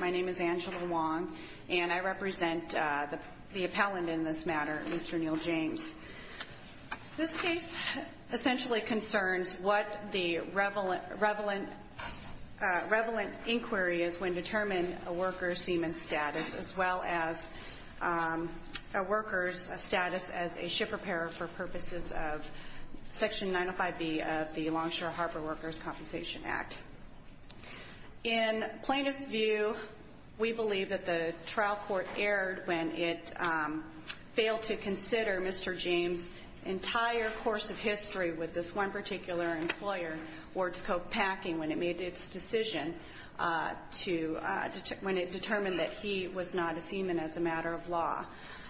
My name is Angela Wong, and I represent the appellant in this matter, Mr. Neal James. This case essentially concerns what the revelant inquiry is when determining a worker's status as a ship repairer for purposes of Section 905B of the Longshore Harbor Workers' Compensation Act. In plainest view, we believe that the trial court erred when it failed to consider Mr. James's entire course of history with this one particular employer, Wards Cove Packing, when it made its decision to – when it determined that he was not a seaman as a matter of law.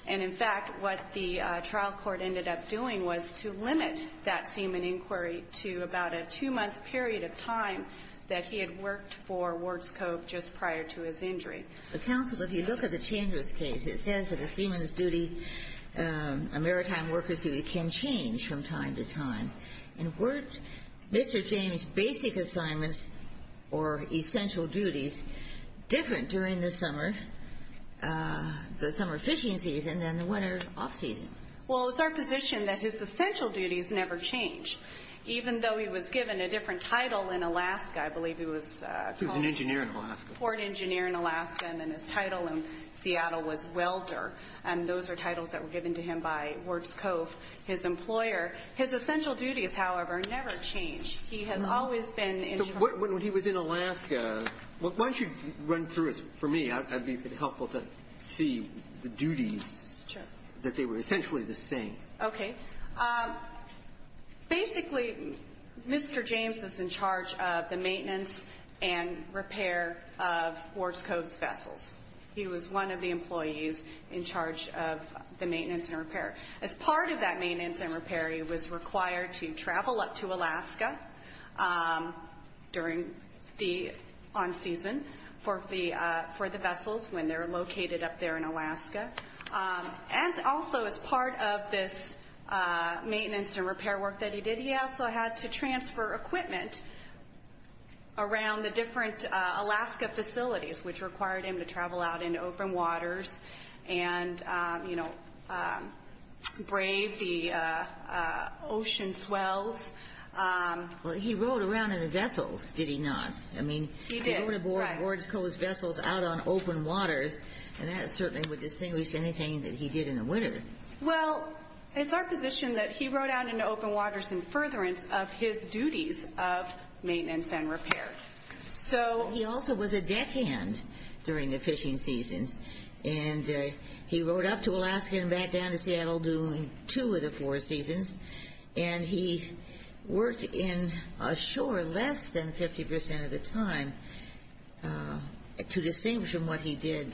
And, in fact, what the trial court ended up doing was to limit that seaman inquiry to about a two-month period of time that he had worked for Wards Cove just prior to his injury. But, Counsel, if you look at the Chambers case, it says that a seaman's duty, a maritime worker's duty, can change from time to time. And weren't Mr. James's basic assignments or essential duties different during the summer, the summer fishing season, than the winter off-season? Well, it's our position that his essential duties never changed. Even though he was given a different title in Alaska – I believe he was called – He was an engineer in Alaska. – port engineer in Alaska, and then his title in Seattle was welder. And those are titles that were given to him by Wards Cove, his employer. His essential duties, however, never changed. He has always been in charge. So when he was in Alaska – why don't you run through it for me? I'd be helpful to see the duties. Sure. That they were essentially the same. Okay. Basically, Mr. James was in charge of the maintenance and repair of Wards Cove's vessels. He was one of the employees in charge of the maintenance and repair. As part of that maintenance and repair, he was required to travel up to Alaska during the on-season for the vessels when they're located up there in Alaska. And also, as part of this maintenance and repair work that he did, he also had to transfer equipment around the different Alaska facilities, which required him to travel out into open waters and, you know, brave the ocean swells. Well, he rode around in the vessels, did he not? He did, right. I mean, he rode aboard Wards Cove's vessels out on open waters, and that certainly would distinguish anything that he did in the winter. Well, it's our position that he rode out into open waters in furtherance of his duties of maintenance and repair. He also was a deckhand during the fishing season, and he rode up to Alaska and back down to Seattle during two of the four seasons, and he worked in ashore less than 50% of the time, to distinguish from what he did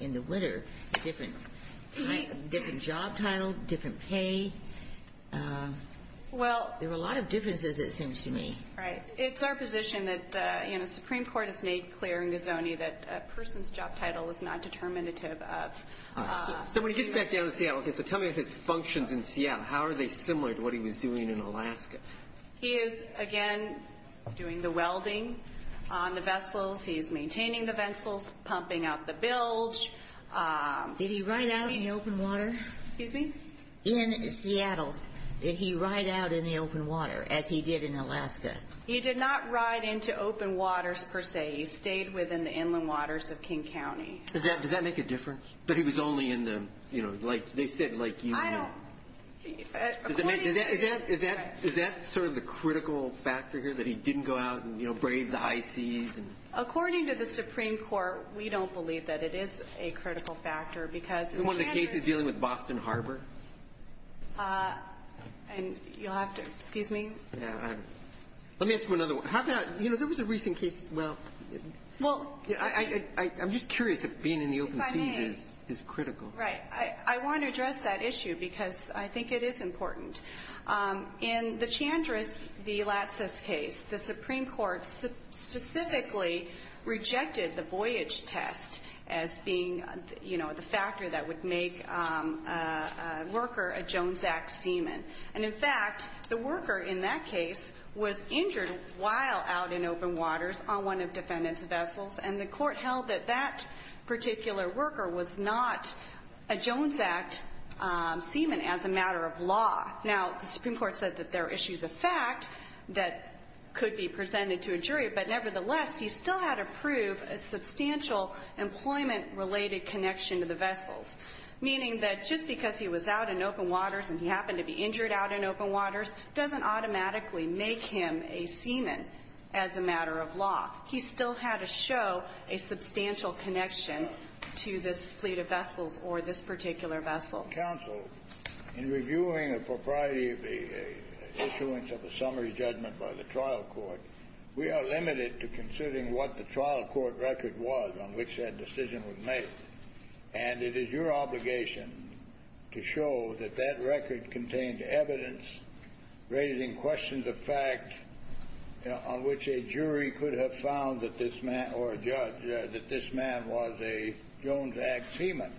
in the winter. Different job title, different pay. There were a lot of differences, it seems to me. Right. It's our position that, you know, the Supreme Court has made clear in Gazzone that a person's job title is not determinative of… So when he gets back down to Seattle, okay, so tell me his functions in Seattle. How are they similar to what he was doing in Alaska? He is, again, doing the welding on the vessels. He is maintaining the vessels, pumping out the bilge. Did he ride out in the open water? Excuse me? In Seattle, did he ride out in the open water, as he did in Alaska? He did not ride into open waters, per se. He stayed within the inland waters of King County. Does that make a difference? But he was only in the, you know, like they said, like Union. I don't… Does that make… According to the… Is that sort of the critical factor here, that he didn't go out and, you know, brave the high seas? According to the Supreme Court, we don't believe that it is a critical factor because… In one of the cases dealing with Boston Harbor? You'll have to… Excuse me? Let me ask you another one. How about, you know, there was a recent case… Well, I'm just curious if being in the open sea is critical. Right. I want to address that issue because I think it is important. In the Chandris v. Latsis case, the Supreme Court specifically rejected the voyage test as being, you know, the factor that would make a worker a Jones Act seaman. And, in fact, the worker in that case was injured while out in open waters on one of defendants' vessels, and the Court held that that particular worker was not a Jones Act seaman as a matter of law. Now, the Supreme Court said that there are issues of fact that could be presented to a jury, but, nevertheless, he still had to prove a substantial employment-related connection to the vessels, meaning that just because he was out in open waters and he happened to be injured out in open waters doesn't automatically make him a seaman as a matter of law. He still had to show a substantial connection to this fleet of vessels or this particular vessel. Counsel, in reviewing a propriety of the issuance of a summary judgment by the trial court, we are limited to considering what the trial court record was on which that decision was made, and it is your obligation to show that that record contained evidence raising questions of fact on which a jury could have found that this man or a judge, that this man was a Jones Act seaman.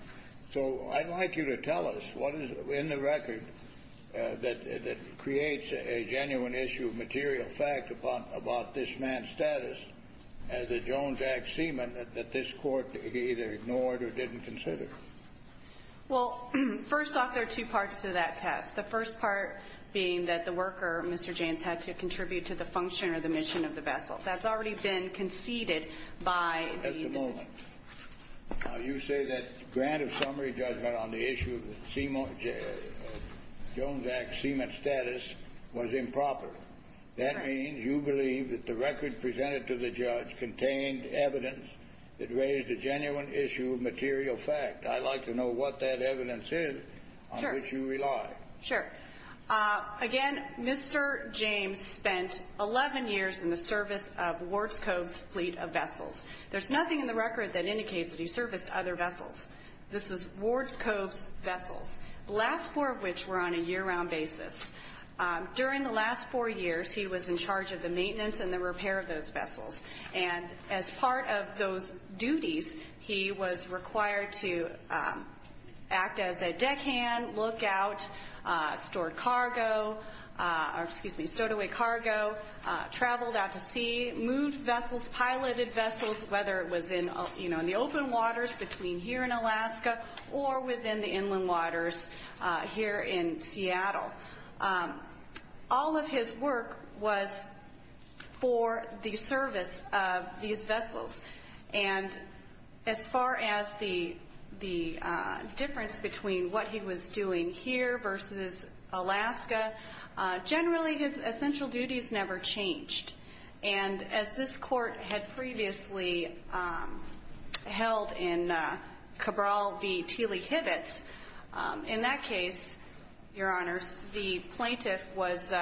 So I'd like you to tell us what is in the record that creates a genuine issue of material fact about this man's status as a Jones Act seaman that this Court either ignored or didn't consider. Well, first off, there are two parts to that test, the first part being that the worker, Mr. Jaynes, had to contribute to the function or the mission of the vessel. That's already been conceded by the jury. Now, you say that grant of summary judgment on the issue of Jones Act seaman status was improper. That means you believe that the record presented to the judge contained evidence that raised a genuine issue of material fact. I'd like to know what that evidence is on which you rely. Sure. Again, Mr. Jaynes spent 11 years in the service of Warts Cove's fleet of vessels. There's nothing in the record that indicates that he serviced other vessels. This is Warts Cove's vessels, the last four of which were on a year-round basis. During the last four years, he was in charge of the maintenance and the repair of those vessels. And as part of those duties, he was required to act as a deckhand, lookout, stowed away cargo, traveled out to sea, moved vessels, piloted vessels, whether it was in the open waters between here in Alaska or within the inland waters here in Seattle. All of his work was for the service of these vessels. And as far as the difference between what he was doing here versus Alaska, generally his essential duties never changed. And as this court had previously held in Cabral v. Teeley-Hibbets, in that case, Your Honors, the plaintiff was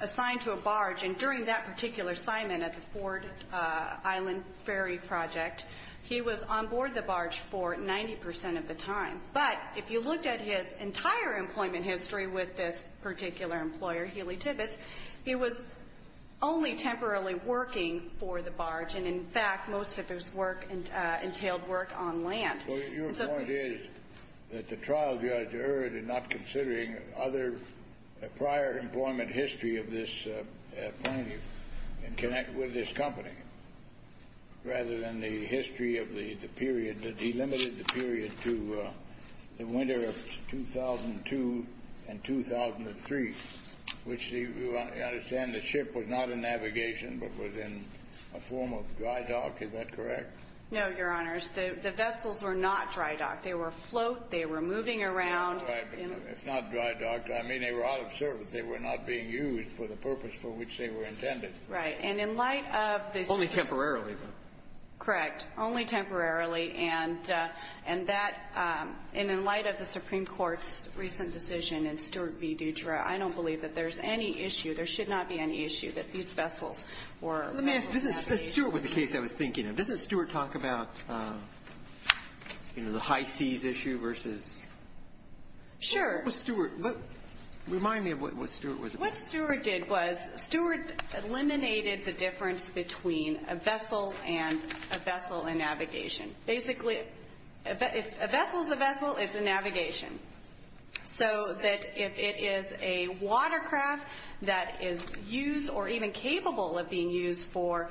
assigned to a barge. And during that particular assignment at the Ford Island Ferry Project, he was on board the barge for 90 percent of the time. But if you looked at his entire employment history with this particular employer, Healey-Hibbets, he was only temporarily working for the barge. And, in fact, most of his work entailed work on land. So your point is that the trial judge heard in not considering other prior employment history of this plaintiff and connect with this company rather than the history of the period, that he limited the period to the winter of 2002 and 2003, which you understand the ship was not in navigation but was in a form of dry dock. Is that correct? No, Your Honors. The vessels were not dry docked. They were afloat. They were moving around. Right. If not dry docked, I mean, they were out of service. They were not being used for the purpose for which they were intended. Right. And in light of this ---- Only temporarily, though. Correct. Only temporarily. And that ---- and in light of the Supreme Court's recent decision in Stewart v. Dutra, I don't believe that there's any issue, there should not be any issue, that these vessels were ---- Let me ask, if Stewart was the case I was thinking of, doesn't Stewart talk about, you know, the high seas issue versus ---- Sure. What was Stewart? Remind me of what Stewart was about. What Stewart did was Stewart eliminated the difference between a vessel and a vessel in navigation. So that if it is a watercraft that is used or even capable of being used for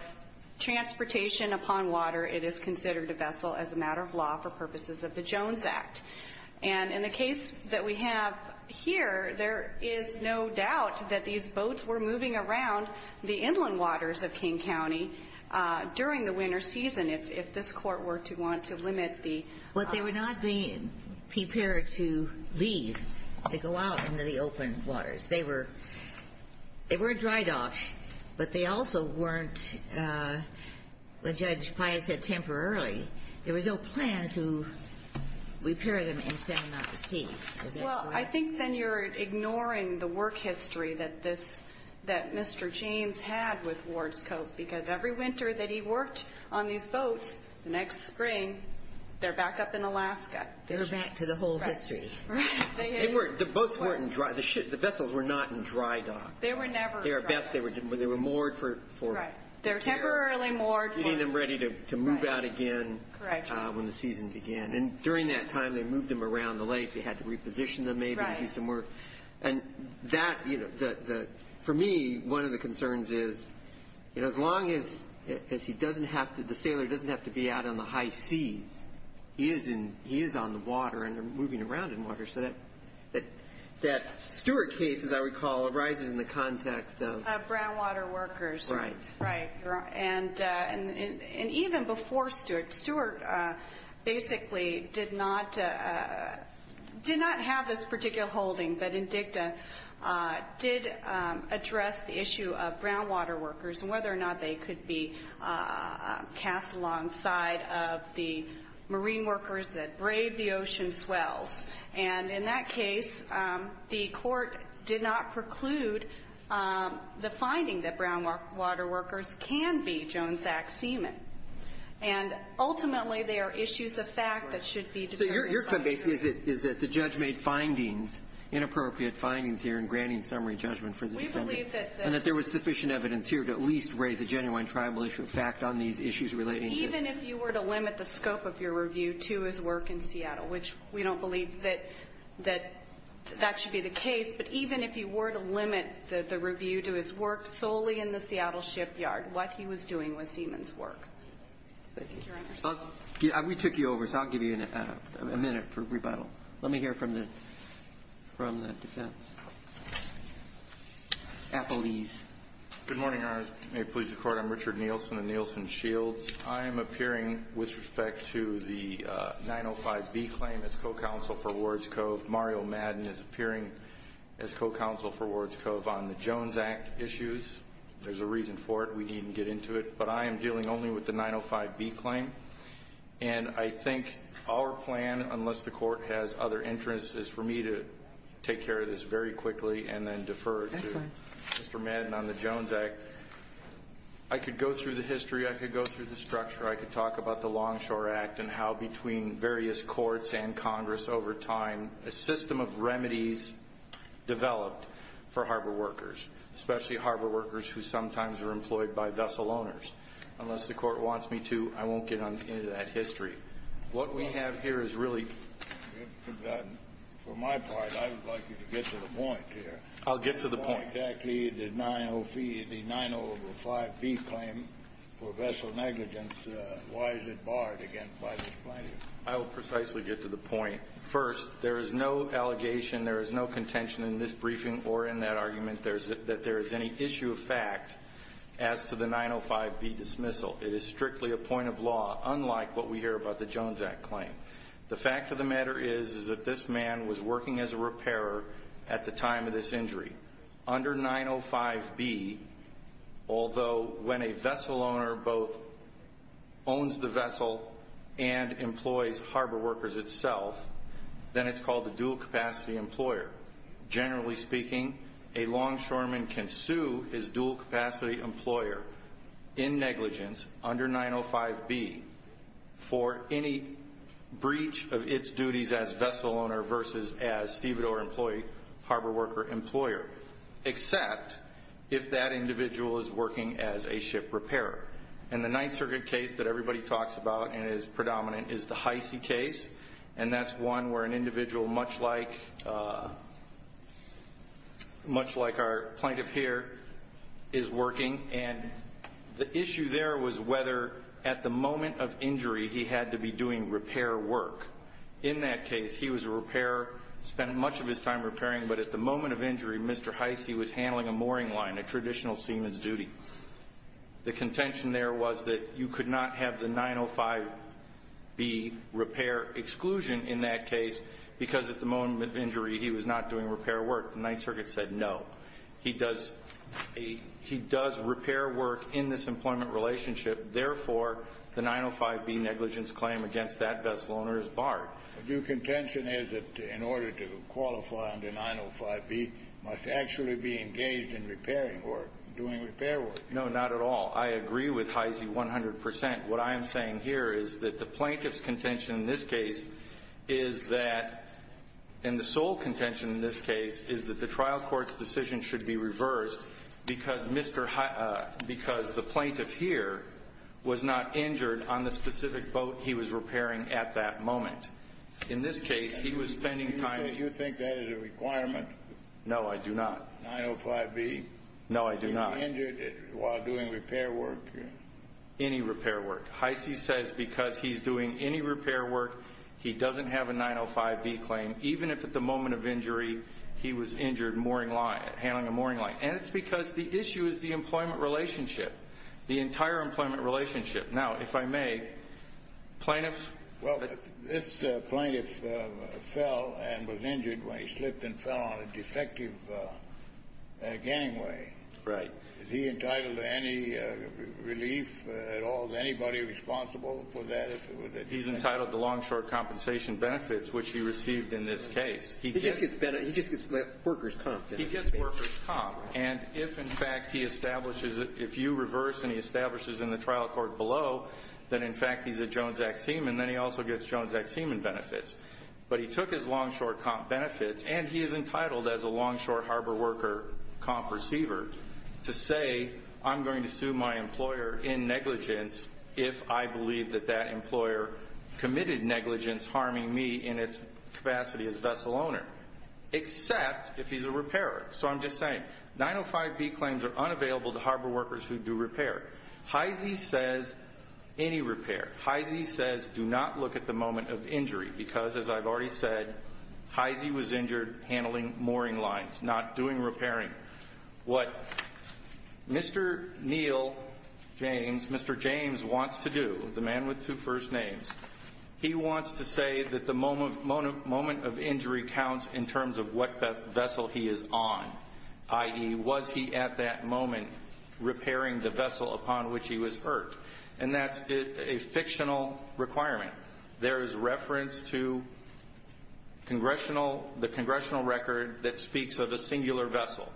transportation upon water, it is considered a vessel as a matter of law for purposes of the Jones Act. And in the case that we have here, there is no doubt that these boats were moving around the inland waters of King County during the winter season. If this Court were to want to limit the ---- But they were not being prepared to leave, to go out into the open waters. They were dry docks, but they also weren't, as Judge Pius said, temporarily. There was no plan to repair them and send them out to sea. Well, I think then you're ignoring the work history that this ---- that Mr. James had with Ward's Co. because every winter that he worked on these boats, the next spring, they're back up in Alaska. They're back to the whole history. The boats weren't in dry ---- The vessels were not in dry dock. They were never in dry dock. They were moored for ---- They were temporarily moored. Getting them ready to move out again when the season began. And during that time, they moved them around the lake. They had to reposition them maybe and do some work. And that ---- For me, one of the concerns is as long as he doesn't have to ---- The sailor doesn't have to be out on the high seas. He is on the water and moving around in water. So that Stewart case, as I recall, arises in the context of ---- Brown water workers. Right. Right. And even before Stewart, Stewart basically did not have this particular holding, but INDICTA did address the issue of brown water workers and whether or not they could be cast alongside of the marine workers that braved the ocean swells. And in that case, the Court did not preclude the finding that brown water workers can be Jones, Zach, Seaman. And ultimately, they are issues of fact that should be ---- So your ---- Is that the judge made findings, inappropriate findings here in granting summary judgment for the defendant. We believe that the ---- And that there was sufficient evidence here to at least raise a genuine tribal issue of fact on these issues relating to ---- that that should be the case. But even if you were to limit the review to his work solely in the Seattle shipyard, what he was doing was Seaman's work. Thank you. Your Honor. We took you over, so I'll give you a minute for rebuttal. Let me hear from the defense. Appellees. Good morning, Your Honor. May it please the Court. I'm Richard Nielsen of Nielsen Shields. I am appearing with respect to the 905B claim as co-counsel for Wards Cove. Mario Madden is appearing as co-counsel for Wards Cove on the Jones Act issues. There's a reason for it. We needn't get into it. But I am dealing only with the 905B claim. And I think our plan, unless the Court has other interests, is for me to take care of this very quickly and then defer to Mr. Madden on the Jones Act. I could go through the history. I could go through the structure. I could talk about the Longshore Act and how, between various courts and Congress over time, a system of remedies developed for harbor workers, especially harbor workers who sometimes are employed by vessel owners. Unless the Court wants me to, I won't get into that history. What we have here is really— For my part, I would like you to get to the point here. I'll get to the point. Why exactly the 905B claim for vessel negligence? Why is it barred, again, by this plaintiff? I will precisely get to the point. First, there is no allegation, there is no contention in this briefing or in that argument that there is any issue of fact as to the 905B dismissal. It is strictly a point of law, unlike what we hear about the Jones Act claim. The fact of the matter is that this man was working as a repairer at the time of this injury. Under 905B, although when a vessel owner both owns the vessel and employs harbor workers itself, then it's called a dual-capacity employer. Generally speaking, a longshoreman can sue his dual-capacity employer in negligence under 905B for any breach of its duties as vessel owner versus as stevedore employee, harbor worker employer, except if that individual is working as a ship repairer. The Ninth Circuit case that everybody talks about and is predominant is the Heise case. That's one where an individual, much like our plaintiff here, is working. The issue there was whether, at the moment of injury, he had to be doing repair work. In that case, he was a repairer, spent much of his time repairing, but at the moment of injury, Mr. Heise was handling a mooring line, a traditional seaman's duty. The contention there was that you could not have the 905B repair exclusion in that case because, at the moment of injury, he was not doing repair work. The Ninth Circuit said no. He does repair work in this employment relationship. Therefore, the 905B negligence claim against that vessel owner is barred. The due contention is that, in order to qualify under 905B, must actually be engaged in repairing work, doing repair work. No, not at all. I agree with Heise 100 percent. What I am saying here is that the plaintiff's contention in this case is that the sole contention in this case is that the trial court's decision should be reversed because the plaintiff here was not injured on the specific boat he was repairing at that moment. In this case, he was spending time... You think that is a requirement? No, I do not. 905B. No, I do not. He was injured while doing repair work. Any repair work. Heise says because he's doing any repair work, he doesn't have a 905B claim, even if, at the moment of injury, he was injured handling a mooring line. And it's because the issue is the employment relationship, the entire employment relationship. Now, if I may, plaintiffs... Well, this plaintiff fell and was injured when he slipped and fell on a defective gangway. Right. Is he entitled to any relief at all? Is anybody responsible for that? He's entitled to long-short compensation benefits, which he received in this case. He just gets workers' comp. He gets workers' comp. And if, in fact, he establishes it, if you reverse and he establishes it in the trial court below, then, in fact, he's a Jones Act seaman. Then he also gets Jones Act seaman benefits. But he took his long-short comp benefits, and he is entitled as a long-short harbor worker comp receiver to say, I'm going to sue my employer in negligence if I believe that that employer committed negligence harming me in its capacity as a vessel owner. Except if he's a repairer. So I'm just saying, 905B claims are unavailable to harbor workers who do repair. HEISI says any repair. HEISI says do not look at the moment of injury because, as I've already said, HEISI was injured handling mooring lines, not doing repairing. What Mr. Neal James, Mr. James wants to do, the man with two first names, he wants to say that the moment of injury counts in terms of what vessel he is on, i.e., was he at that moment repairing the vessel upon which he was hurt? And that's a fictional requirement. There is reference to the congressional record that speaks of a singular vessel.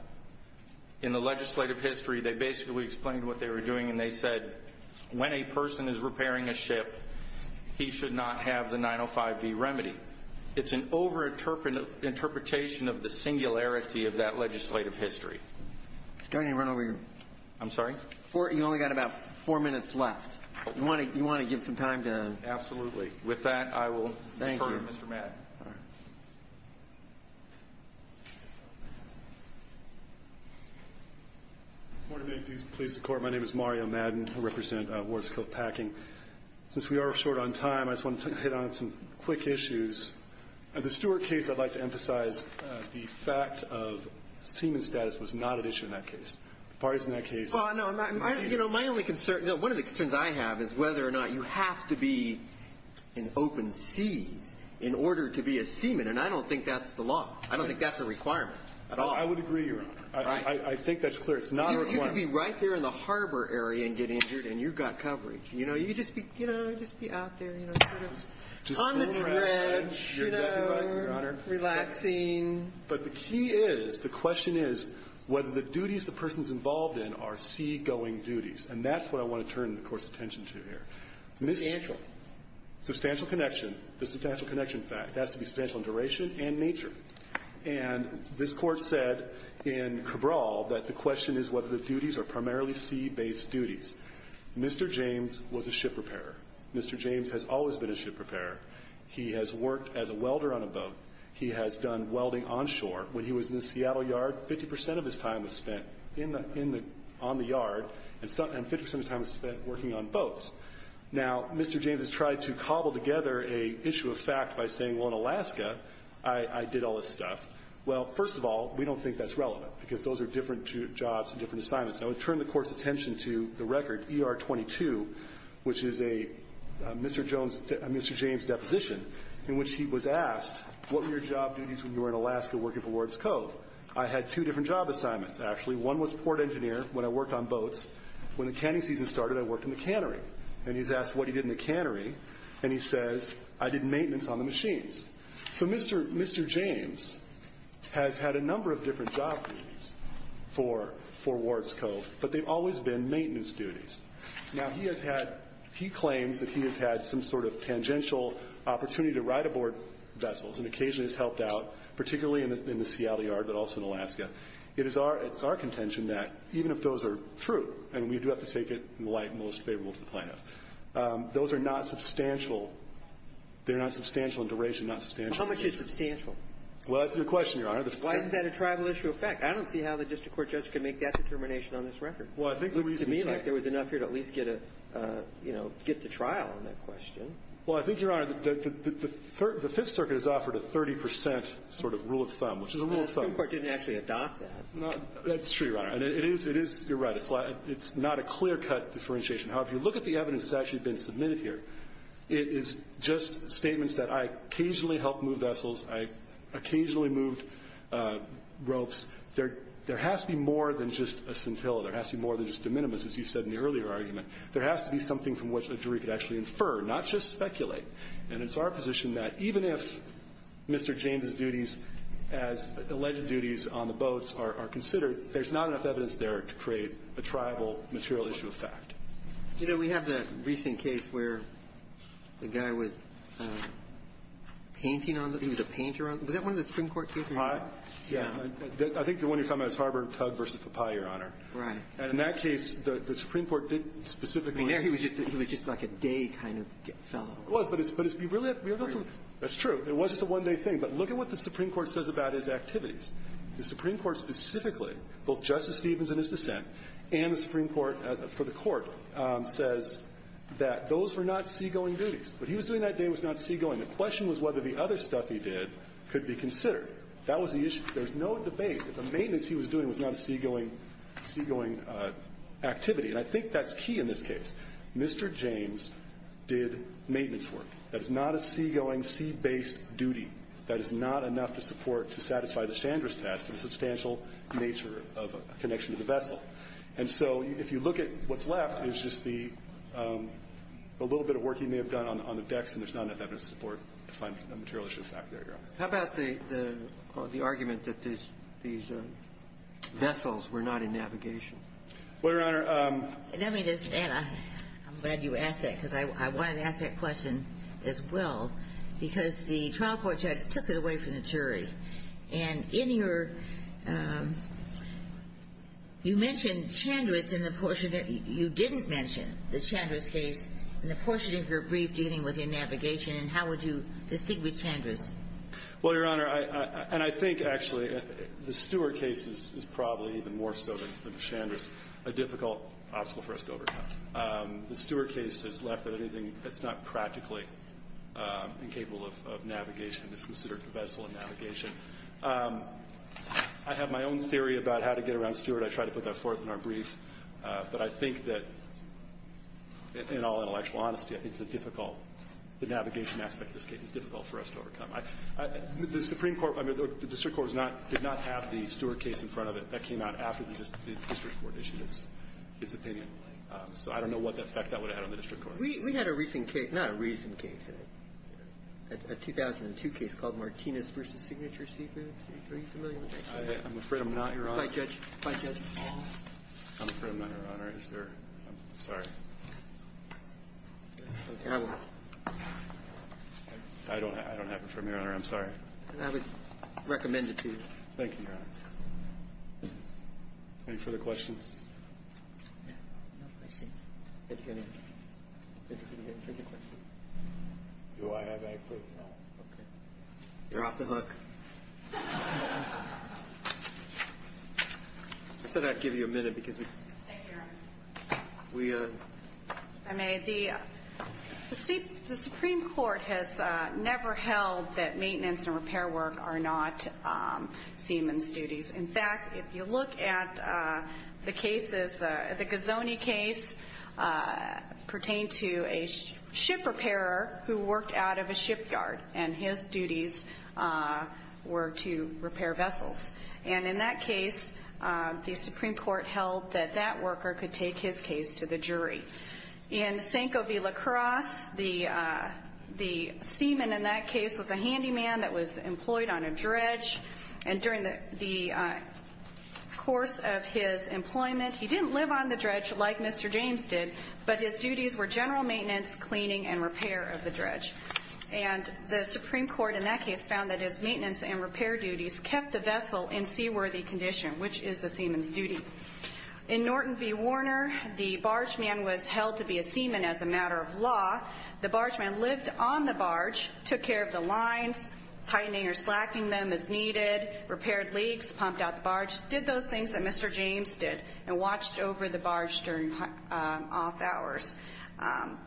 In the legislative history, they basically explained what they were doing, and they said, when a person is repairing a ship, he should not have the 905B remedy. It's an over-interpretation of the singularity of that legislative history. I'm starting to run over your ---- I'm sorry? You only got about four minutes left. You want to give some time to ---- Absolutely. With that, I will defer to Mr. Madden. All right. Good morning. Please support. My name is Mario Madden. I represent Wards Cove Packing. Since we are short on time, I just wanted to hit on some quick issues. At the Stewart case, I'd like to emphasize the fact of seaman status was not an issue in that case. The parties in that case ---- My only concern, one of the concerns I have is whether or not you have to be in open seas in order to be a seaman, and I don't think that's the law. I don't think that's a requirement at all. I would agree with you. I think that's clear. It's not a requirement. You can be right there in the harbor area and get injured, and you've got coverage. You just be out there sort of on the dredge, relaxing. But the key is, the question is whether the duties the person is involved in are seagoing duties, and that's what I want to turn the Court's attention to here. Substantial. Substantial connection. The substantial connection fact has to be substantial in duration and nature. And this Court said in Cabral that the question is whether the duties are primarily sea-based duties. Mr. James was a ship repairer. Mr. James has always been a ship repairer. He has worked as a welder on a boat. He has done welding onshore. When he was in the Seattle yard, 50 percent of his time was spent on the yard, and 50 percent of his time was spent working on boats. Now, Mr. James has tried to cobble together an issue of fact by saying, well, in Alaska, I did all this stuff. Well, first of all, we don't think that's relevant, because those are different jobs and different assignments. And I would turn the Court's attention to the record, ER-22, which is a Mr. James deposition, in which he was asked, what were your job duties when you were in Alaska working for Wards Cove? I had two different job assignments, actually. One was port engineer when I worked on boats. When the canning season started, I worked in the cannery. And he's asked what he did in the cannery, and he says, I did maintenance on the machines. So Mr. James has had a number of different job duties for Wards Cove, but they've always been maintenance duties. Now, he has had – he claims that he has had some sort of tangential opportunity to ride aboard vessels and occasionally has helped out, particularly in the Seattle yard, but also in Alaska. It is our – it's our contention that even if those are true, and we do have to take it in the light most favorable to the plaintiff, those are not substantial. They're not substantial in duration, not substantial in duration. How much is substantial? Well, that's a good question, Your Honor. Why isn't that a tribal issue of fact? I don't see how the district court judge can make that determination on this record. Well, I think – Looks to me like there was enough here to at least get a – you know, get to trial on that question. Well, I think, Your Honor, the Fifth Circuit has offered a 30 percent sort of rule of thumb, which is a rule of thumb. Well, the Supreme Court didn't actually adopt that. That's true, Your Honor. It is – you're right. It's not a clear-cut differentiation. However, if you look at the evidence that's actually been submitted here, it is just statements that I occasionally helped move vessels, I occasionally moved ropes. There has to be more than just a scintilla. There has to be more than just de minimis, as you said in the earlier argument. There has to be something from which a jury could actually infer, not just speculate. And it's our position that even if Mr. James's duties as alleged duties on the boats are considered, there's not enough evidence there to create a tribal material issue of fact. You know, we have the recent case where the guy was painting on the – he was a painter on the – was that one of the Supreme Court cases? Yeah. Right. And in that case, the Supreme Court didn't specifically – I mean, there he was just – he was just like a day kind of fellow. He was, but it's – but it's – you really have to – that's true. It was just a one-day thing. But look at what the Supreme Court says about his activities. The Supreme Court specifically, both Justice Stevens and his dissent, and the Supreme Court for the Court, says that those were not seagoing duties. What he was doing that day was not seagoing. The question was whether the other stuff he did could be considered. That was the issue. There's no debate that the maintenance he was doing was not a seagoing activity. And I think that's key in this case. Mr. James did maintenance work. That is not a seagoing, sea-based duty. That is not enough to support – to satisfy the Chandra's test of a substantial nature of a connection to the vessel. And so if you look at what's left, it's just the little bit of work he may have done on the decks, and there's not enough evidence to support a material issue of fact. There you are. How about the argument that these vessels were not in navigation? Well, Your Honor, let me just add, I'm glad you asked that, because I wanted to ask that question as well, because the trial court judge took it away from the jury. And in your – you mentioned Chandra's in the portion – you didn't mention the Chandra's case in the portion of your brief dealing with in navigation, and how would you distinguish Chandra's? Well, Your Honor, I – and I think, actually, the Stewart case is probably even more so than the Chandra's, a difficult obstacle for us to overcome. The Stewart case has left that anything that's not practically incapable of navigation is considered a vessel of navigation. I have my own theory about how to get around Stewart. I tried to put that forth in our brief. But I think that, in all intellectual honesty, I think it's a difficult – the navigation aspect of this case is difficult for us to overcome. The Supreme Court – I mean, the district court did not have the Stewart case in front of it. That came out after the district court issued its opinion. So I don't know what effect that would have had on the district court. We had a recent case – not a recent case. A 2002 case called Martinez v. Signature Secrets. Are you familiar with that case? I'm afraid I'm not, Your Honor. I'm afraid I'm not, Your Honor. Is there – I'm sorry. I will. I don't have it for you, Your Honor. I'm sorry. I would recommend it to you. Thank you, Your Honor. Any further questions? No questions. Do I have any further questions? Okay. You're off the hook. I said I'd give you a minute because we – Thank you, Your Honor. We – If I may, the Supreme Court has never held that maintenance and repair work are not seaman's duties. In fact, if you look at the cases – the Gazzone case pertained to a ship repairer who worked out of a shipyard, and his duties were to repair vessels. And in that case, the Supreme Court held that that worker could take his case to the jury. In Sanco v. La Crosse, the seaman in that case was a handyman that was employed on a dredge. And during the course of his employment, he didn't live on the dredge like Mr. James did, but his duties were general maintenance, cleaning, and repair of the dredge. And the Supreme Court in that case found that his maintenance and repair duties kept the vessel in seaworthy condition, which is a seaman's duty. In Norton v. Warner, the bargeman was held to be a seaman as a matter of law. The bargeman lived on the barge, took care of the lines, tightening or slackening them as needed, repaired leaks, pumped out the barge, did those things that Mr. James did, and watched over the barge during off hours.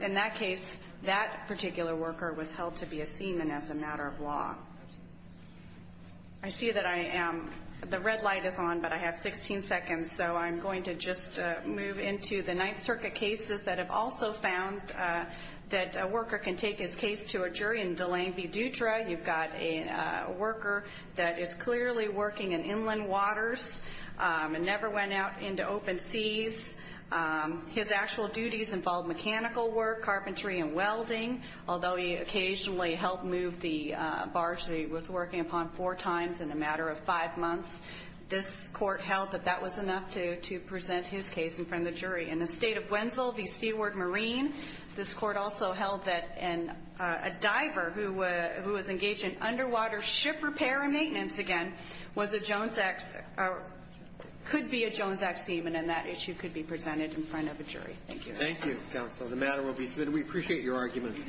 In that case, that particular worker was held to be a seaman as a matter of law. I see that the red light is on, but I have 16 seconds, so I'm going to just move into the Ninth Circuit cases that have also found that a worker can take his case to a jury. In Delain v. Dutra, you've got a worker that is clearly working in inland waters and never went out into open seas. His actual duties involved mechanical work, carpentry, and welding, although he occasionally helped move the barge that he was working upon four times in a matter of five months. This Court held that that was enough to present his case in front of the jury. In the State of Wenzel v. Seaworth Marine, this Court also held that a diver who was engaged in underwater ship repair and maintenance again was a Jones X or could be a Jones X seaman, and that issue could be presented in front of a jury. Thank you. Thank you, Counsel. The matter will be submitted. We appreciate your arguments.